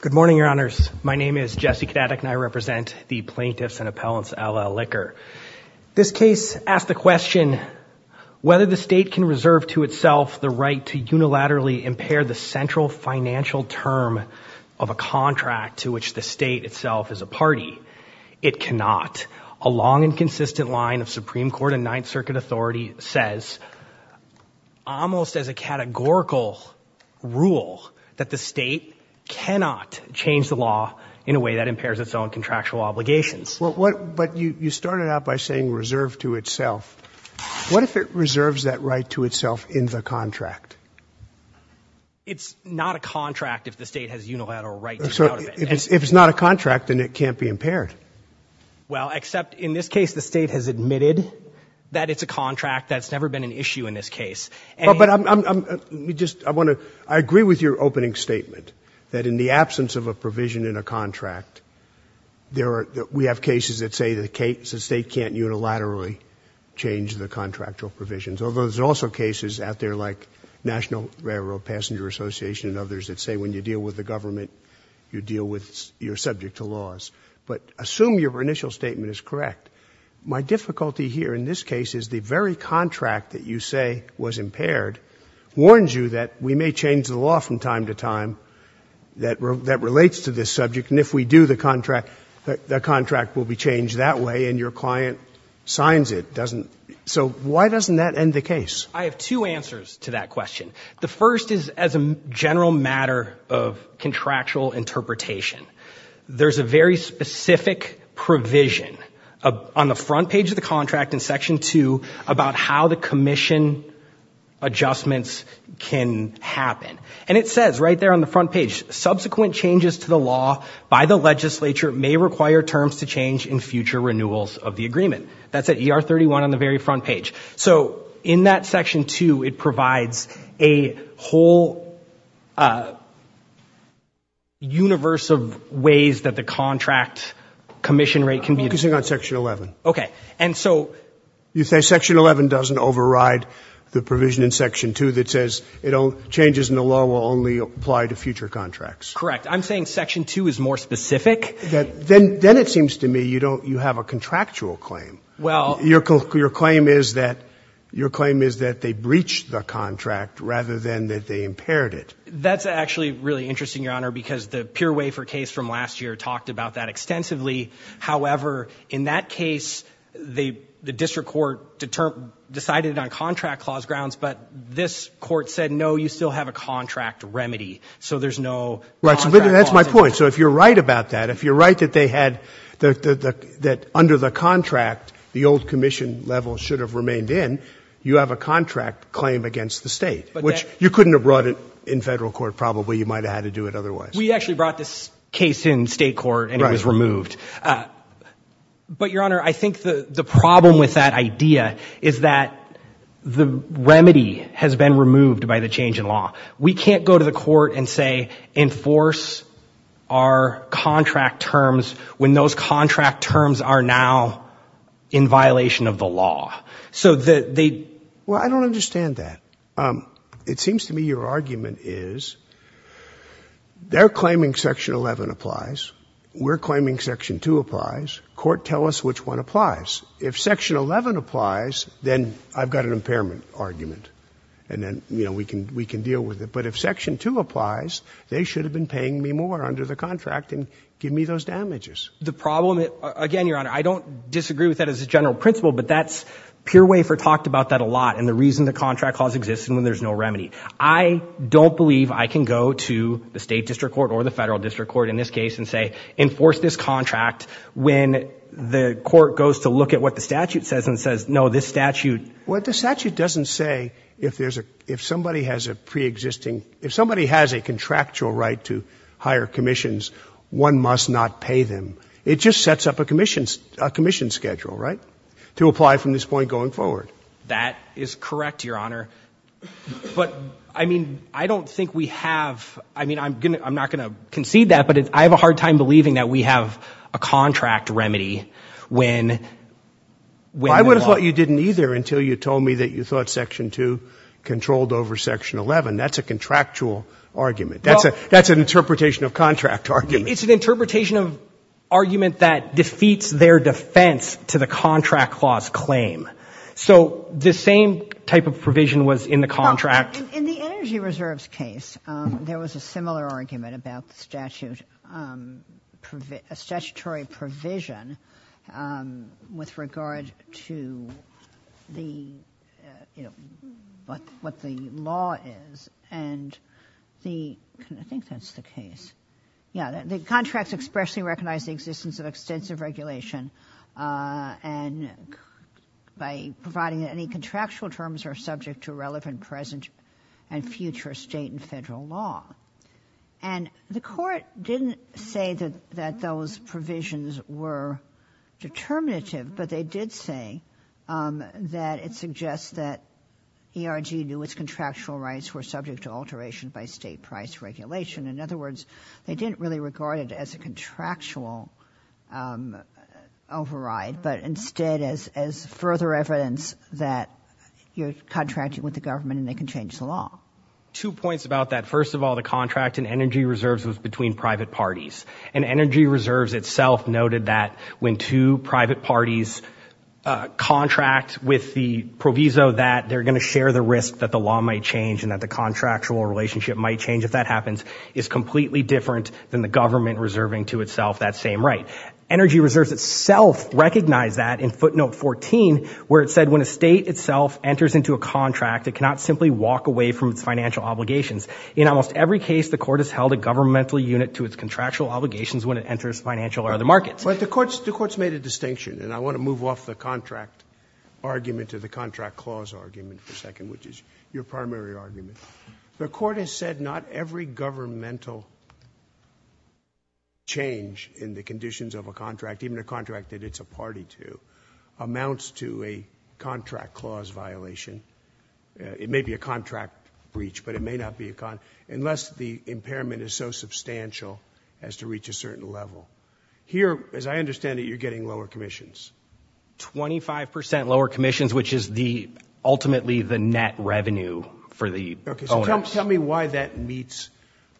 Good morning, Your Honors. My name is Jesse Kadatek and I represent the plaintiffs and appellants LL Liquor. This case asks the question, whether the state can reserve to itself the right to unilaterally impair the central financial term of a contract to which the state itself is a party. It cannot. A long and consistent line of Supreme Court and Ninth Circuit authority says, almost as a categorical rule, that the state cannot change the law in a way that impairs its own contractual obligations. But you started out by saying reserved to itself. What if it reserves that right to itself in the contract? It's not a contract if the state has unilateral right to get out of it. If it's not a contract, then it can't be impaired. Well, except in this case, the state has admitted that it's a contract. That's never been an issue in this case. But I'm just, I want to, I agree with your opening statement that in the absence of a provision in a contract, there are, we have cases that say the state can't unilaterally change the contractual provisions. Although there's also cases out there like National Railroad Passenger Association and others that say when you deal with the government, you deal with, you're subject to laws. But assume your initial statement is correct. My difficulty here in this case is the very contract that you say was impaired warns you that we may change the law from time to time that relates to this subject, and if we do, the contract, the contract will be changed that way, and your client signs it, doesn't, so why doesn't that end the case? I have two answers to that question. The first is as a general matter of contractual interpretation. There's a very specific provision on the front page of the contract in section two about how the commission adjustments can happen. And it says right there on the front page, subsequent changes to the law by the legislature may require terms to change in future renewals of the agreement. That's at ER 31 on the very front page. So in that section two, it provides a whole universe of ways that the contract commission rate can be... I'm focusing on section 11. Okay. And so... You say section 11 doesn't override the provision in section two that says changes in the law will only apply to future contracts. Correct. I'm saying section two is more specific. Then it seems to me you don't, you have a contractual claim. Well... Your claim is that they breached the contract rather than that they impaired it. That's actually really interesting, Your Honor, because the pure wafer case from last year talked about that extensively. However, in that case, the district court decided on contract clause grounds, but this court said, no, you still have a contract remedy. So there's no... Right. So that's my point. So if you're right about that, if you're right that they have a contract, the old commission level should have remained in, you have a contract claim against the state, which you couldn't have brought it in federal court, probably you might've had to do it otherwise. We actually brought this case in state court and it was removed. But Your Honor, I think the problem with that idea is that the remedy has been removed by the change in law. We can't go to the court and say, enforce our contract terms when those contract terms are now in violation of the law. So that they... Well, I don't understand that. It seems to me your argument is they're claiming section 11 applies. We're claiming section 2 applies. Court, tell us which one applies. If section 11 applies, then I've got an impairment argument and then, you know, we can, we can deal with it. But if section 2 applies, they should have been paying me more under the contract and give me those damages. The problem, again, Your Honor, I don't disagree with that as a general principle, but that's, Pure Wafer talked about that a lot. And the reason the contract clause exists and when there's no remedy. I don't believe I can go to the state district court or the federal district court in this case and say, enforce this contract when the court goes to look at what the statute says and says, no, this statute... What the statute doesn't say, if there's a, if somebody has a preexisting, if somebody has a contractual right to hire commissions, one must not pay them. It just sets up a commission, a commission schedule, right? To apply from this point going forward. That is correct, Your Honor. But I mean, I don't think we have, I mean, I'm going to, I'm not going to concede that, but I have a hard time believing that we have a contract remedy when, when... I would have thought you didn't either until you told me that you thought section 2 controlled over section 11. That's a contractual argument. That's a, that's an interpretation of contract argument. It's an interpretation of argument that defeats their defense to the contract clause claim. So the same type of provision was in the contract... Well, in the Energy Reserves case, there was a similar argument about the statute, a statutory provision with regard to the, you know, what the law is. And the, I think that's the case. Yeah, the contracts expressly recognize the existence of extensive regulation and by providing any contractual terms are subject to relevant present and future state and federal law. And the court didn't say that, that those provisions were determinative, but they did say that it suggests that ERG knew its contractual rights were subject to alteration by state price regulation. In other words, they didn't really regard it as a contractual override, but instead as, as further evidence that you're contracting with the government and they can change the law. Two points about that. First of all, the contract in Energy Reserves was between private parties and Energy Reserves itself noted that when two private parties contract with the proviso that they're going to share the risk that the law might change and that the contractual relationship might change if that happens is completely different than the government reserving to itself that same right. Energy Reserves itself recognized that in footnote 14, where it said when a state itself enters into a contract, it cannot simply walk away from its financial obligations. In almost every case, the court has held a governmental unit to its contractual obligations when it enters financial or other markets. But the court's, the court's made a distinction and I want to move off the contract argument to the contract clause argument for a second, which is your primary argument. The court has said not every governmental change in the conditions of a contract, even a contract that it's a party to, amounts to a contract clause violation. It may be a contract breach, but it may not be a con unless the impairment is so substantial as to reach a certain level. Here, as I understand it, you're getting lower commissions. 25% lower commissions, which is the ultimately the net revenue for the owners. Tell me why that meets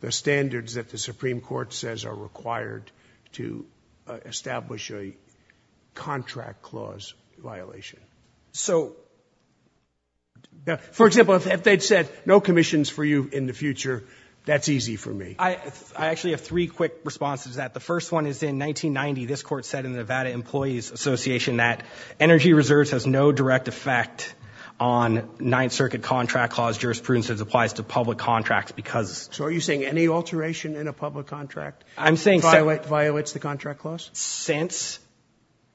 the standards that the Supreme Court says are required to establish a contract clause violation. So, for example, if they'd said no commissions for you in the future, that's easy for me. I actually have three quick responses to that. The first one is in 1990, this court said in the Nevada Employees Association that energy reserves has no direct effect on Ninth Circuit contract clause jurisprudence as it applies to public contracts because... So are you saying any alteration in a public contract violates the contract clause? Since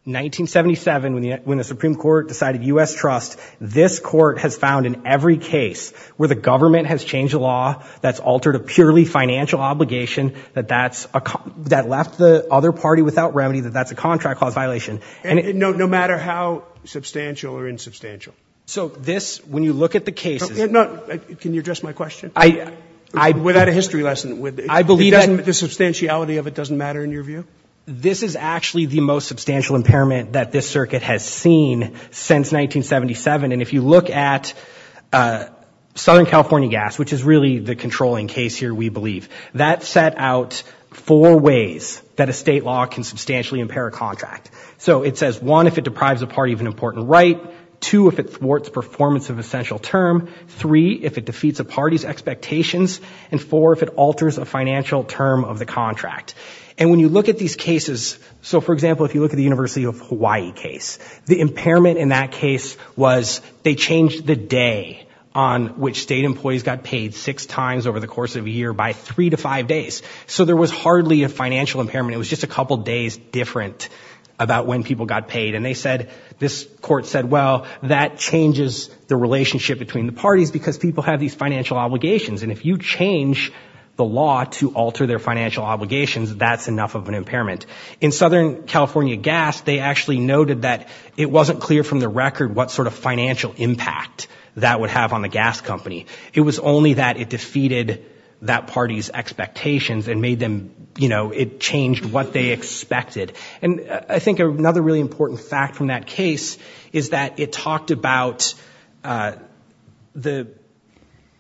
1977, when the Supreme Court decided U.S. trust, this court has found in every case where the government has changed a law that's altered a purely financial obligation that that's a, that left the other party without remedy that that's a contract clause violation. And no matter how substantial or insubstantial? So this, when you look at the cases... No, can you address my question? I, I... Without a history lesson, I believe that... The substantiality of it doesn't matter in your view? This is actually the most substantial impairment that this circuit has seen since 1977. And if you look at Southern California Gas, which is really the controlling case here, we believe, that set out four ways that a state law can substantially impair a contract. So it says, one, if it deprives a party of an important right, two, if it thwarts performance of essential term, three, if it defeats a party's expectations, and four, if it alters a financial term of the contract. And when you look at these cases... So, for example, if you look at the University of Hawaii case, the impairment in that case was they changed the day on which state employees got paid six times over the course of a year by three to five days. So there was hardly a financial impairment, it was just a couple days different about when people got paid. And they said, this court said, well, that changes the relationship between the parties because people have these financial obligations. And if you change the law to alter their financial obligations, that's enough of an impairment. In Southern California Gas, they actually noted that it wasn't clear from the record what sort of financial impact that would have on the gas company. It was only that it defeated that party's expectations and made them, you know, it changed what they expected. And I think another really important fact from that case is that it talked about the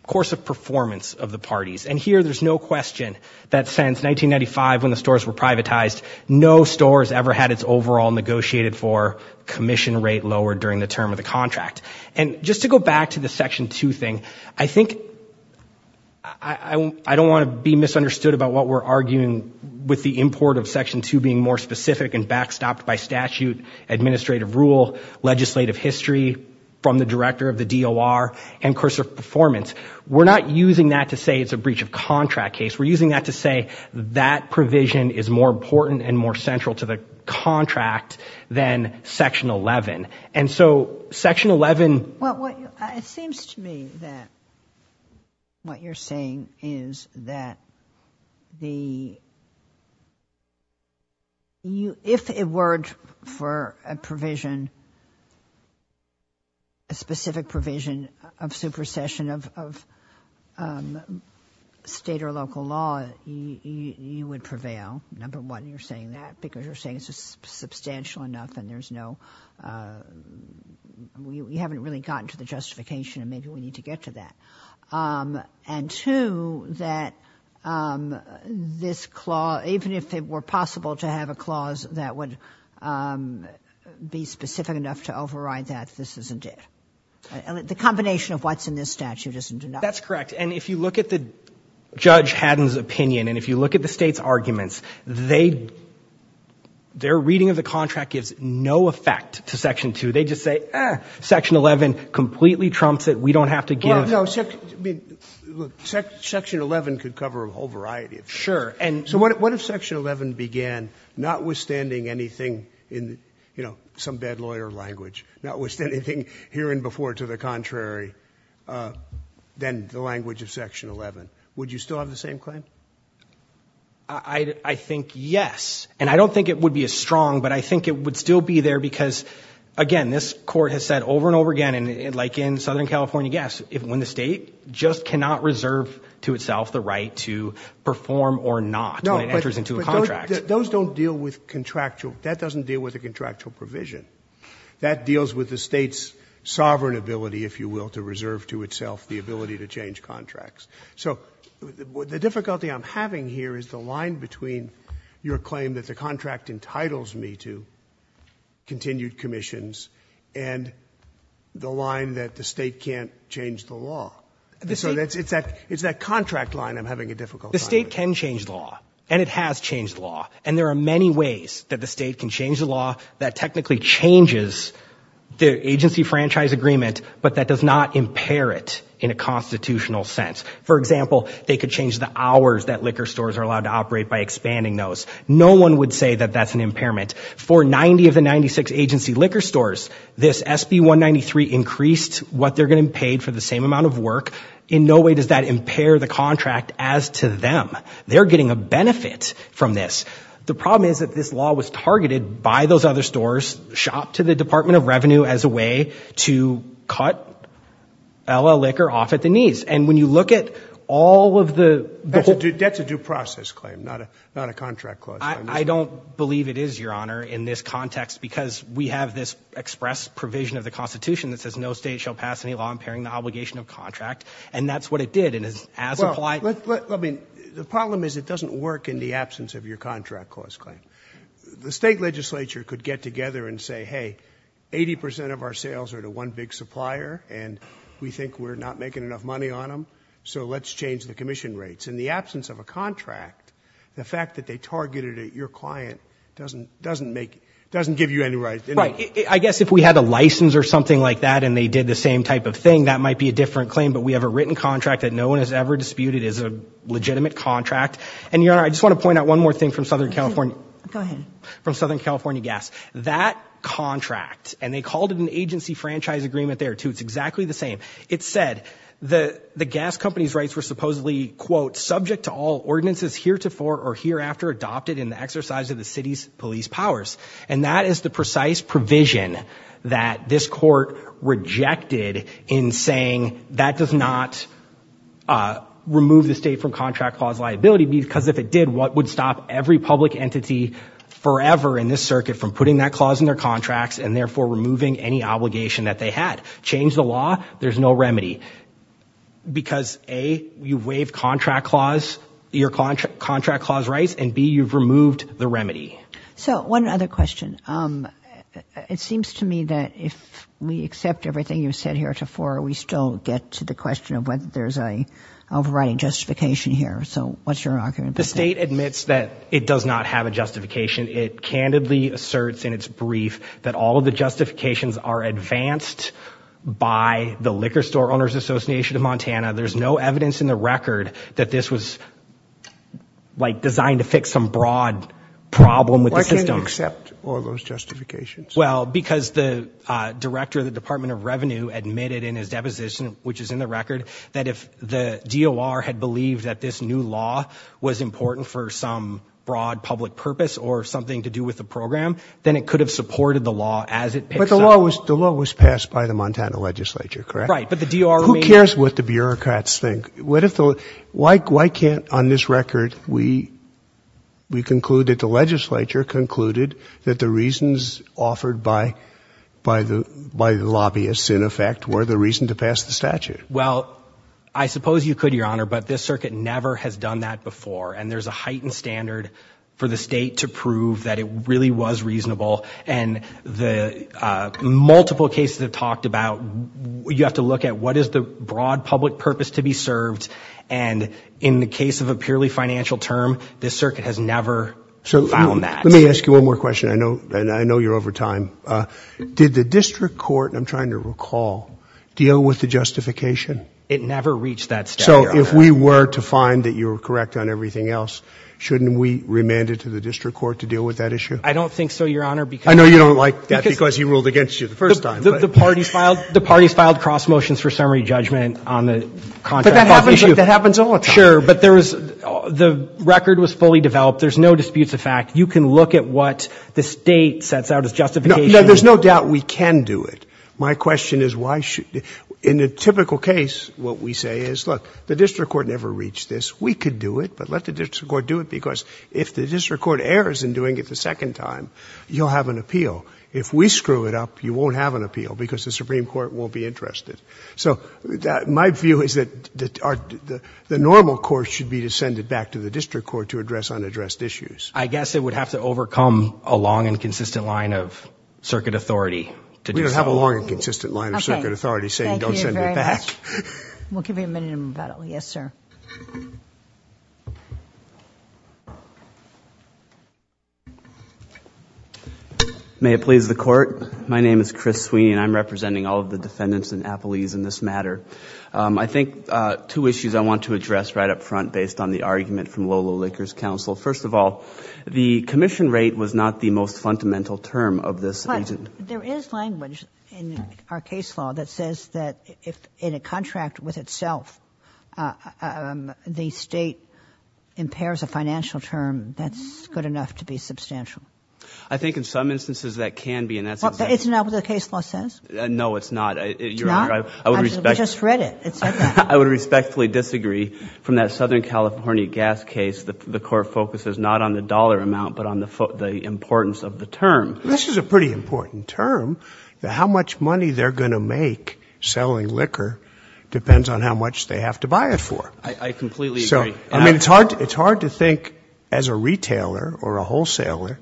course of performance of the parties. And here, there's no question that since 1995, when the stores were privatized, no store has ever had its overall negotiated for commission rate lowered during the term of the contract. And just to go back to the Section 2 thing, I think I don't want to be misunderstood about what we're arguing with the import of Section 2 being more specific and backstopped by statute, administrative rule, legislative history, from the director of the DOR and course of performance. We're not using that to say it's a breach of contract case. We're using that to say that provision is more important and more central to the contract than Section 11. And so Section 11... Well, it seems to me that what you're saying is that the... For a provision, a specific provision of supersession of state or local law, you would prevail. Number one, you're saying that because you're saying it's substantial enough and there's no... We haven't really gotten to the justification and maybe we need to get to that. And two, that this clause, even if it were possible to have a clause that would be specific enough to override that, this isn't it. The combination of what's in this statute isn't enough. That's correct. And if you look at Judge Haddon's opinion and if you look at the State's arguments, their reading of the contract gives no effect to Section 2. They just say, Section 11 completely trumps it. We don't have to give... Well, no. Section 11 could cover a whole variety of... Sure. So what if Section 11 began, notwithstanding anything in some bad lawyer language, notwithstanding hearing before to the contrary, then the language of Section 11, would you still have the same claim? I think yes. And I don't think it would be as strong, but I think it would still be there because, again, this court has said over and over again, and like in Southern California, yes, if when the state just cannot reserve to itself the right to perform or not when it enters into a contract... Those don't deal with contractual... That doesn't deal with a contractual provision. That deals with the State's sovereign ability, if you will, to reserve to itself the ability to change contracts. So the difficulty I'm having here is the line between your claim that the contract entitles me to continued commissions and the line that the State can't change the law. So it's that contract line I'm having a difficult time with. The State can change the law, and it has changed the law, and there are many ways that the State can change the law that technically changes the agency franchise agreement, but that does not impair it in a constitutional sense. For example, they could change the hours that liquor stores are allowed to operate by expanding those. No one would say that that's an impairment. For 90 of the 96 agency liquor stores, this SB 193 increased what they're going to be paid for the same amount of work. In no way does that impair the contract as to them. They're getting a benefit from this. The problem is that this law was targeted by those other stores, shopped to the Department of Revenue as a way to cut LL liquor off at the knees. And when you look at all of the... That's a due process claim, not a contract clause. I don't believe it is, Your Honor, in this context because we have this express provision of the Constitution that says no state shall pass any law impairing the obligation of contract, and that's what it did. And as applied... Well, let me... The problem is it doesn't work in the absence of your contract clause claim. The State Legislature could get together and say, hey, 80% of our sales are to one big supplier, and we think we're not making enough money on them, so let's change the commission rates. In the absence of a contract, the fact that they targeted your client doesn't make... Doesn't give you any rights. Right. I guess if we had a license or something and they did the same type of thing, that might be a different claim, but we have a written contract that no one has ever disputed is a legitimate contract. And, Your Honor, I just want to point out one more thing from Southern California... Go ahead. From Southern California Gas. That contract, and they called it an agency franchise agreement there too. It's exactly the same. It said the gas company's rights were supposedly, quote, subject to all ordinances heretofore or hereafter adopted in the exercise of the city's police powers. And that is the precise provision that this court rejected in saying that does not remove the state from contract clause liability, because if it did, what would stop every public entity forever in this circuit from putting that clause in their contracts and therefore removing any obligation that they had? Change the law, there's no remedy. Because A, you waive contract clause rights, and B, you've removed the remedy. So one other question. Um, it seems to me that if we accept everything you've said heretofore, we still get to the question of whether there's a overriding justification here. So what's your argument? The state admits that it does not have a justification. It candidly asserts in its brief that all of the justifications are advanced by the Liquor Store Owners Association of Montana. There's no evidence in the record that this was, like, designed to fix some broad problem with the system. Except all those justifications. Well, because the Director of the Department of Revenue admitted in his deposition, which is in the record, that if the DOR had believed that this new law was important for some broad public purpose or something to do with the program, then it could have supported the law as it picks up. But the law was passed by the Montana Legislature, correct? Right, but the DOR... Who cares what the bureaucrats think? Why can't, on this record, we conclude that the legislature concluded that the reasons offered by the lobbyists, in effect, were the reason to pass the statute? Well, I suppose you could, Your Honor, but this circuit never has done that before. And there's a heightened standard for the state to prove that it really was reasonable. And the multiple cases have talked about, you have to look at what is the broad public purpose to be served. And in the case of a purely financial term, this circuit has never found that. Let me ask you one more question, and I know you're over time. Did the district court, and I'm trying to recall, deal with the justification? It never reached that step, Your Honor. So if we were to find that you were correct on everything else, shouldn't we remand it to the district court to deal with that issue? I don't think so, Your Honor, because... I know you don't like that because he ruled against you the first time. The parties filed cross motions for summary judgment on the contract... That happens all the time. Sure, but the record was fully developed. There's no disputes of fact. You can look at what the state sets out as justification. No, there's no doubt we can do it. My question is why should... In a typical case, what we say is, look, the district court never reached this. We could do it, but let the district court do it because if the district court errors in doing it the second time, you'll have an appeal. If we screw it up, you won't have an appeal because the Supreme Court won't be interested. So my view is that the normal course should be to send it back to the district court to address unaddressed issues. I guess it would have to overcome a long and consistent line of circuit authority to do so. We don't have a long and consistent line of circuit authority saying don't send it back. We'll give you a minute to move out. Yes, sir. May it please the court. My name is Chris Sweeney and I'm representing all the defendants in Appelese in this matter. I think two issues I want to address right up front based on the argument from Lola Licker's counsel. First of all, the commission rate was not the most fundamental term of this agent. There is language in our case law that says that if in a contract with itself, the state impairs a financial term, that's good enough to be substantial. I think in some instances that can be and that's... It's not what the case law says? No, it's not. It's not? I would respect... We just read it. It said that. I would respectfully disagree from that Southern California gas case. The court focuses not on the dollar amount, but on the importance of the term. This is a pretty important term. How much money they're going to make selling liquor depends on how much they have to buy it for. I completely agree. I mean, it's hard to think as a retailer or a wholesaler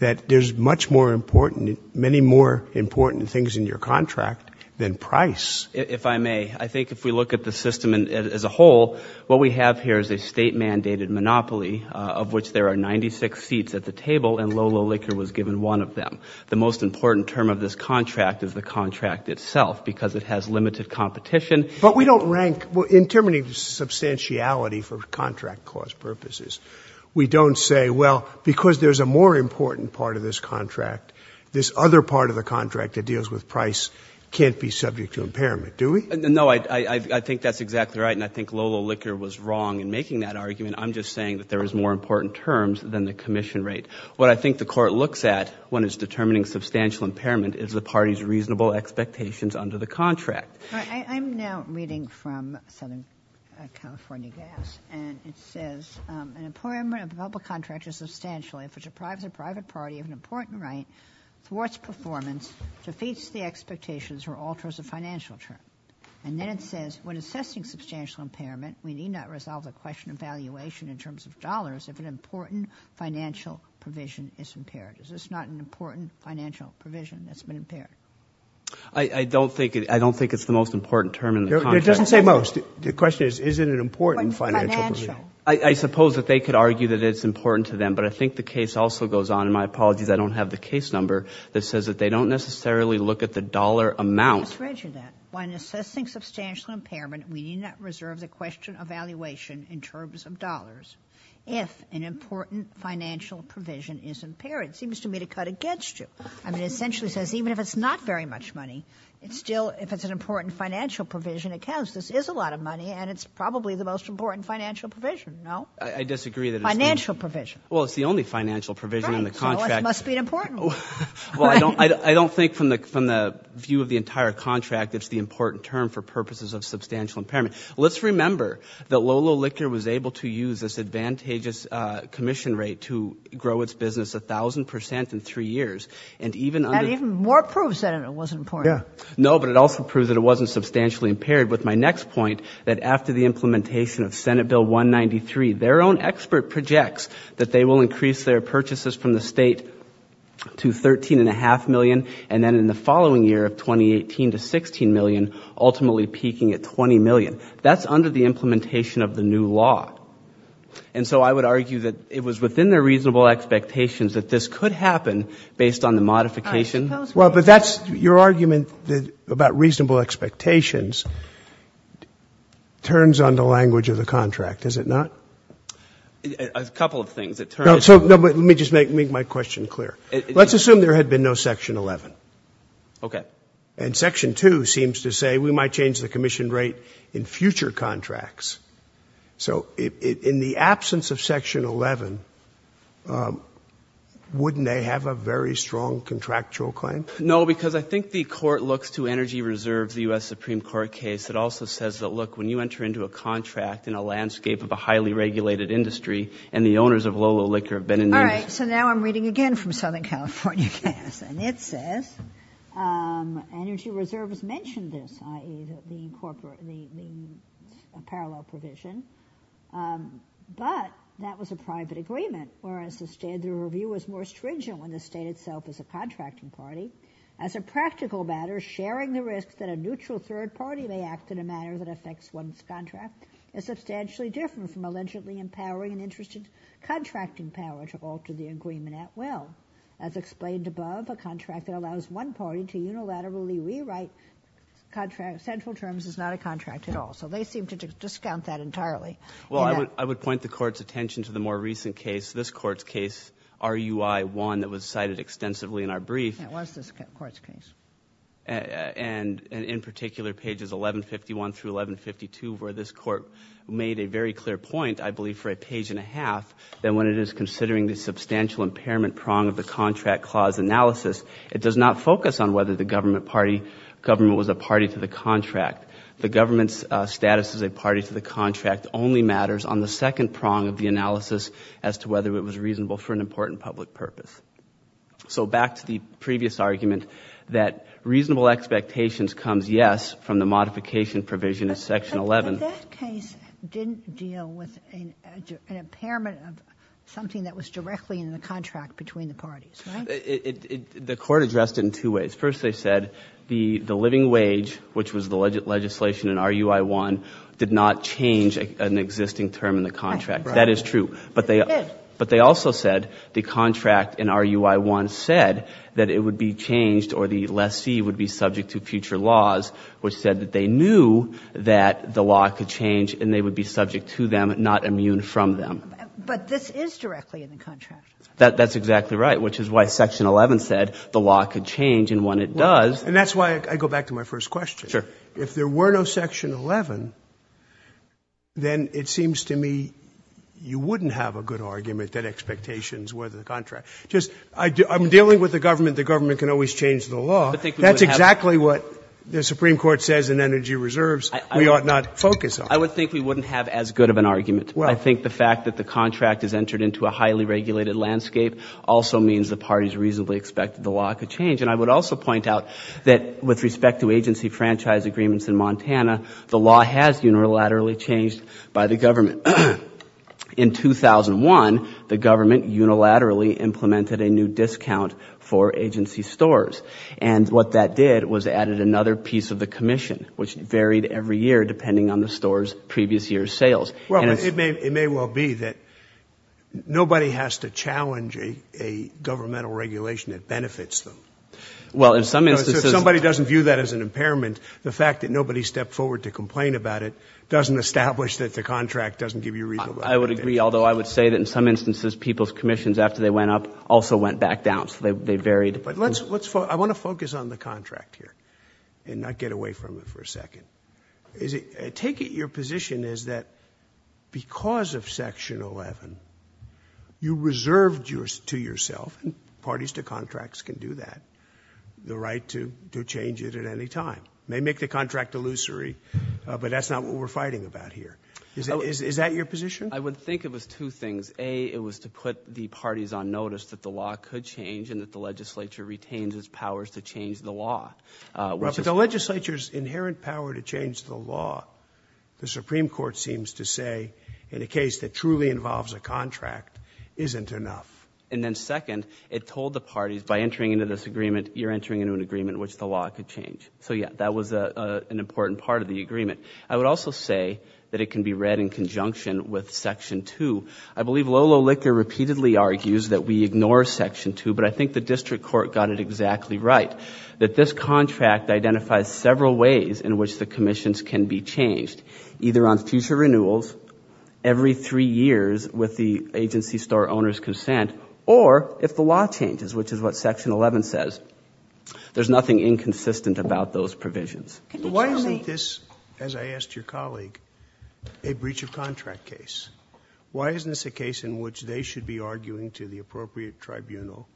that there's much more important, many more important things in your contract than price. If I may, I think if we look at the system as a whole, what we have here is a state-mandated monopoly of which there are 96 seats at the table and Lolo Liquor was given one of them. The most important term of this contract is the contract itself because it has limited competition. But we don't rank... In terms of substantiality for contract cost purposes, we don't say, well, because there's a more important part of this contract, this other part of the contract that deals with price can't be subject to impairment. Do we? No, I think that's exactly right. And I think Lolo Liquor was wrong in making that argument. I'm just saying that there is more important terms than the commission rate. What I think the court looks at when it's determining substantial impairment is the party's reasonable expectations under the contract. I'm now reading from Southern California Gas and it says, an employment of a contract is substantial if it deprives a private party of an important right towards performance, defeats the expectations or alters the financial term. And then it says, when assessing substantial impairment, we need not resolve the question of valuation in terms of dollars if an important financial provision is impaired. Is this not an important financial provision that's been impaired? I don't think it's the most important term in the contract. It doesn't say most. The question is, is it an important financial provision? I suppose that they could argue that it's important to them, but I think the case also goes on, and my apologies, I don't have the case number, that says that they don't necessarily look at the dollar amount. I just read you that. When assessing substantial impairment, we need not reserve the question of valuation in terms of dollars if an important financial provision is impaired. It seems to me to cut against you. I mean, it essentially says, even if it's not very much money, it's still, if it's an important financial provision, it counts. This is a lot of money and it's probably the most important financial provision. No? I disagree that it's... Financial provision. It's the only financial provision in the contract. It must be important. Well, I don't think, from the view of the entire contract, it's the important term for purposes of substantial impairment. Let's remember that Lolo Liquor was able to use this advantageous commission rate to grow its business 1,000% in three years, and even under... And even more proves that it wasn't important. Yeah. No, but it also proves that it wasn't substantially impaired. With my next point, that after the implementation of Senate Bill 193, their own expert projects that they will increase their purchases from the state to $13.5 million, and then in the following year of 2018 to $16 million, ultimately peaking at $20 million. That's under the implementation of the new law. And so I would argue that it was within their reasonable expectations that this could happen based on the modification. Well, but that's... Your argument about reasonable expectations turns on the language of the contract, does it not? A couple of things. No, but let me just make my question clear. Let's assume there had been no Section 11. Okay. And Section 2 seems to say we might change the commission rate in future contracts. So in the absence of Section 11, wouldn't they have a very strong contractual claim? No, because I think the court looks to Energy Reserve, the U.S. Supreme Court case, that also says that, look, when you enter into a contract in a landscape of a highly regulated industry and the owners of Lolo Liquor have been... All right, so now I'm reading again from Southern California case, and it says Energy Reserve has mentioned this, i.e., the parallel provision, but that was a private agreement, whereas the review was more stringent when the state itself is a contracting party. As a practical matter, sharing the risk that a neutral third party may act in a manner that affects one's contract is substantially different from allegedly empowering an interested contracting power to alter the agreement at will. As explained above, a contract that allows one party to unilaterally rewrite central terms is not a contract at all. So they seem to discount that entirely. Well, I would point the court's attention to the more recent case, this court's case, RUI 1, that was cited extensively in our brief. That was this court's case. And in particular, pages 1151 through 1152, where this court made a very clear point, I believe for a page and a half, that when it is considering the substantial impairment prong of the contract clause analysis, it does not focus on whether the government party, government was a party to the contract. The government's status as a party to the contract only matters on the second prong of the analysis as to whether it was reasonable for an important public purpose. So back to the previous argument that reasonable expectations comes, yes, from the modification provision in section 11. But that case didn't deal with an impairment of something that was directly in the contract between the parties, right? The court addressed it in two ways. First, they said the living wage, which was the legislation in RUI 1, did not change an existing term in the contract. That is true. But they also said the contract in RUI 1 said that it would be changed or the lessee would be subject to future laws, which said that they knew that the law could change and they would be subject to them, not immune from them. But this is directly in the contract. That's exactly right, which is why section 11 said the law could change and when it does. And that's why I go back to my first question. Sure. If there were no section 11, then it seems to me you wouldn't have a good argument that expectations were the contract. Just I'm dealing with the government, the government can always change the law. That's exactly what the Supreme Court says in energy reserves we ought not focus on. I would think we wouldn't have as good of an argument. I think the fact that the contract has entered into a highly regulated landscape also means the parties reasonably expected the law could change. And I would also point out that with respect to agency franchise agreements in Montana, the law has unilaterally changed by the government. In 2001, the government unilaterally implemented a new discount for agency stores. And what that did was added another piece of the commission, which varied every year, depending on the store's previous year's sales. Well, it may well be that nobody has to challenge a governmental regulation that benefits them. Well, in some instances, somebody doesn't view that as an impairment. The fact that nobody stepped forward to complain about it doesn't establish that the contract doesn't give you a reason. I would agree. Although I would say that in some instances, people's commissions after they went up also went back down. So they varied. I want to focus on the contract here and not get away from it for a second. I take it your position is that because of Section 11, you reserved to yourself, and parties to contracts can do that, the right to change it at any time. May make the contract illusory, but that's not what we're fighting about here. Is that your position? I would think it was two things. A, it was to put the parties on notice that the law could change and that the legislature retains its powers to change the law. But the legislature's inherent power to change the law, the Supreme Court seems to say, in a case that truly involves a contract, isn't enough. And then second, it told the parties by entering into this agreement, you're entering into an agreement which the law could change. So yeah, that was an important part of the agreement. I would also say that it can be read in conjunction with Section 2. I believe Lolo Licker repeatedly argues that we ignore Section 2, but I think the district court got it exactly right. That this contract identifies several ways in which the commissions can be changed, either on future renewals, every three years with the agency store owner's consent, or if the law changes, which is what Section 11 says. There's nothing inconsistent about those provisions. But why isn't this, as I asked your colleague, a breach of contract case? Why isn't this a case in which they should be arguing to the appropriate tribunal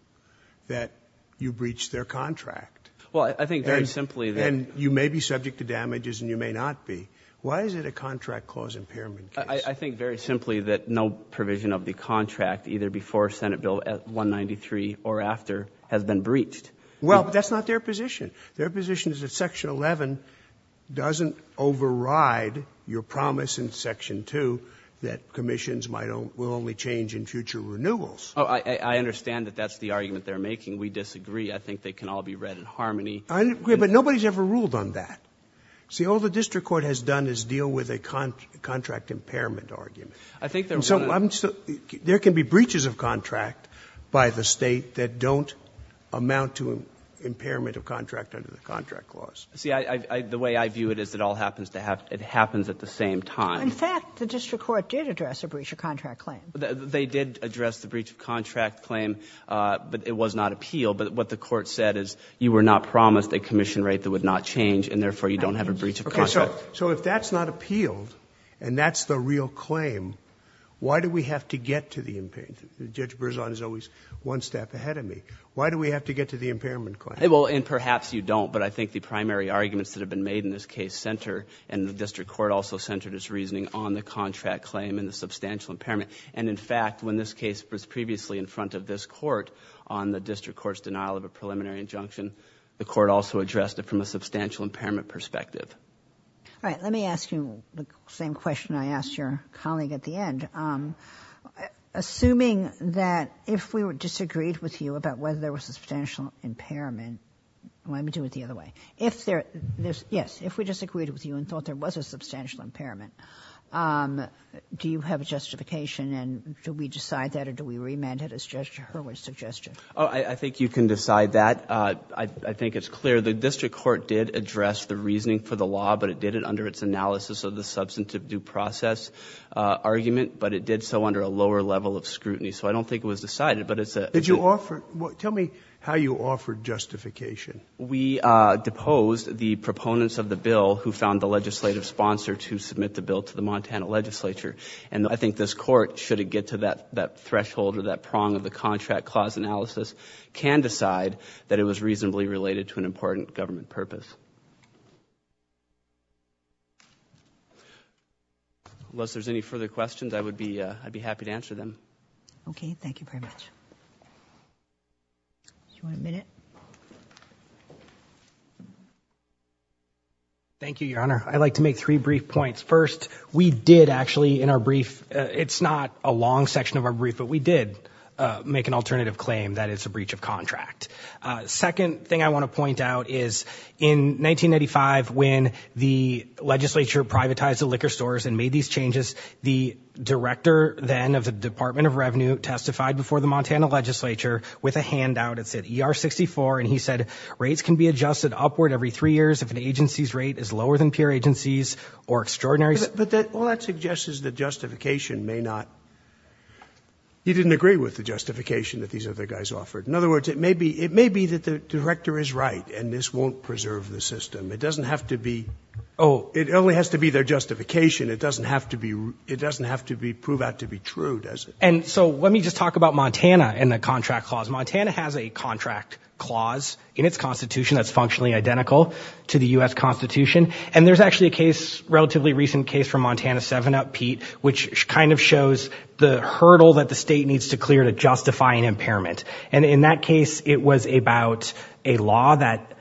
that you breached their contract? Well, I think very simply that- And you may be subject to damages, and you may not be. Why is it a contract clause impairment case? I think very simply that no provision of the contract, either before Senate Bill 193 or after, has been breached. Well, that's not their position. Their position is that Section 11 doesn't override your promise in Section 2 that commissions will only change in future renewals. Oh, I understand that that's the argument they're making. We disagree. I think they can all be read in harmony. I agree, but nobody's ever ruled on that. See, all the district court has done is deal with a contract impairment argument. I think they're going to- There can be breaches of contract by the State that don't amount to impairment of contract under the contract clause. See, the way I view it is it all happens at the same time. In fact, the district court did address a breach of contract claim. They did address the breach of contract claim, but it was not appealed. But what the court said is you were not promised a commission rate that would not change, and therefore you don't have a breach of contract. So if that's not appealed, and that's the real claim, why do we have to get to the impairment? Judge Berzon is always one step ahead of me. Why do we have to get to the impairment claim? Well, and perhaps you don't, but I think the primary arguments that have been made in this case center, and the district court also centered its reasoning on the contract claim and the substantial impairment. And in fact, when this case was previously in front of this court on the district court's denial of a preliminary injunction, the court also addressed it from a substantial impairment perspective. All right, let me ask you the same question I asked your colleague at the end. Assuming that if we disagreed with you about whether there was a substantial impairment, let me do it the other way. If there, yes, if we disagreed with you and thought there was a substantial impairment, do you have a justification, and do we decide that, or do we remand it as Judge Hurwitz suggested? Oh, I think you can decide that. I think it's clear the district court did address the reasoning for the law, but it did it under its analysis of the substantive due process argument, but it did so under a lower level of scrutiny. So I don't think it was decided, but it's a... Did you offer, tell me how you offered justification. We deposed the proponents of the bill who found the legislative sponsor to submit the bill to the Montana legislature, and I think this court, should it get to that threshold or that prong of the contract clause analysis, can decide that it was reasonably related to an important government purpose. Unless there's any further questions, I'd be happy to answer them. Okay, thank you very much. Do you want a minute? Thank you, Your Honor. I'd like to make three brief points. First, we did actually, in our brief, it's not a long section of our brief, but we did make an alternative claim that it's a breach of contract. Second thing I want to point out is in 1995, when the legislature privatized the liquor stores and made these changes, the director then of the Department of Revenue testified before the Montana legislature with a handout. It said ER64, and he said, rates can be adjusted upward every three years if an agency's rate is lower than peer agencies or extraordinary... But all that suggests is the justification may not... He didn't agree with the justification that these other guys offered. In other words, it may be that the director is right, and this won't preserve the system. It doesn't have to be... Oh. It only has to be their justification. It doesn't have to prove out to be true, does it? And so let me just talk about Montana and the contract clause. Montana has a contract clause in its constitution that's functionally identical to the US Constitution. And there's actually a case, relatively recent case from Montana 7 up, Pete, which kind of shows the hurdle that the state needs to clear to justify an impairment. And in that case, it was about a law that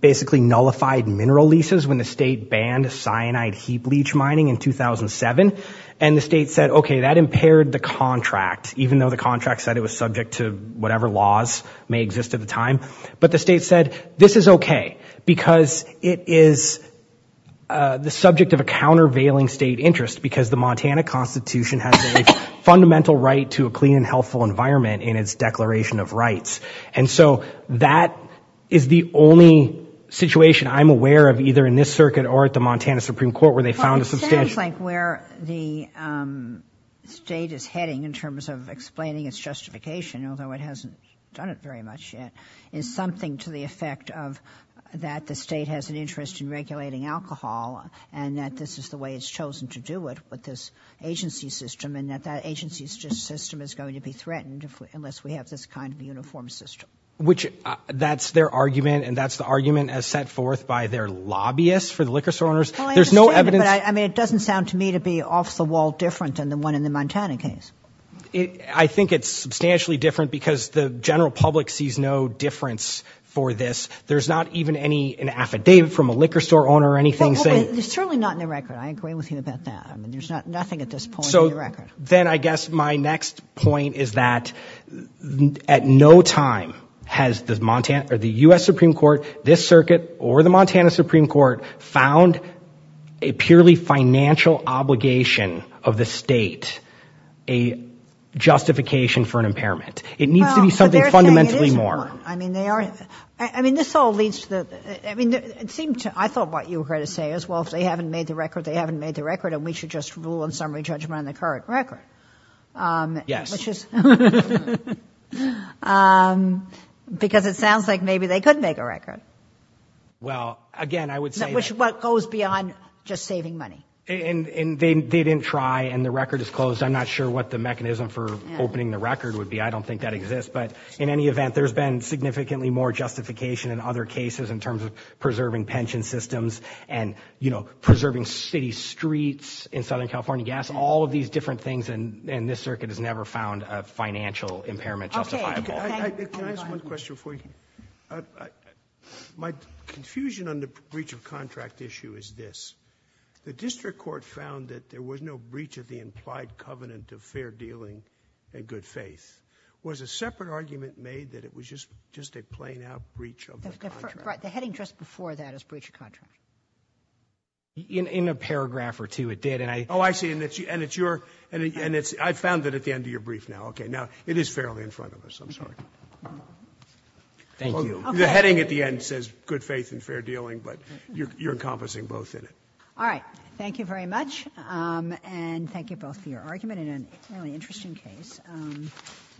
basically nullified mineral leases when the state banned cyanide heap leach mining in 2007. And the state said, OK, that impaired the contract, even though the contract said it was subject to whatever laws may exist at the time. But the state said, this is OK, because it is the subject of a countervailing state interest because the Montana Constitution has a fundamental right to a clean and healthful environment in its declaration of rights. And so that is the only situation I'm aware of, either in this circuit or at the Montana Supreme Court, where they found a substantial... Explaining its justification, although it hasn't done it very much yet, is something to the effect of that the state has an interest in regulating alcohol and that this is the way it's chosen to do it with this agency system and that that agency system is going to be threatened unless we have this kind of uniform system. Which that's their argument, and that's the argument as set forth by their lobbyists for the liquor store owners. There's no evidence... I mean, it doesn't sound to me to be off the wall different than the one in the Montana case. I think it's substantially different because the general public sees no difference for this. There's not even an affidavit from a liquor store owner or anything saying... There's certainly not in the record. I agree with you about that. I mean, there's nothing at this point in the record. Then I guess my next point is that at no time has the U.S. Supreme Court, this circuit or the Montana Supreme Court found a purely financial obligation of the state a justification for an impairment. It needs to be something fundamentally more. I mean, they are... I mean, this all leads to the... I mean, it seemed to... I thought what you were going to say is, well, if they haven't made the record, they haven't made the record and we should just rule in summary judgment on the current record. Yes. Because it sounds like maybe they could make a record. Well, again, I would say... What goes beyond just saving money. And they didn't try and the record is closed. I'm not sure what the mechanism for opening the record would be. I don't think that exists. But in any event, there's been significantly more justification in other cases in terms of preserving pension systems and preserving city streets in Southern California. Yes, all of these different things. And this circuit has never found a financial impairment justifiable. Can I ask one question for you? My confusion on the breach of contract issue is this. The district court found that there was no breach of the implied covenant of fair dealing and good faith. Was a separate argument made that it was just a plain out breach of the contract? The heading just before that is breach of contract. In a paragraph or two, it did. And I... Oh, I see. And it's your... And it's... I found that at the end of your brief now. Okay. Now, it is fairly in front of us. I'm sorry. Thank you. The heading at the end says good faith and fair dealing, but you're encompassing both in it. All right. Thank you very much. And thank you both for your argument in an really interesting case.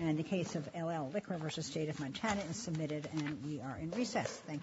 And the case of LL Liquor versus State of Montana is submitted. And we are in recess. Thank you.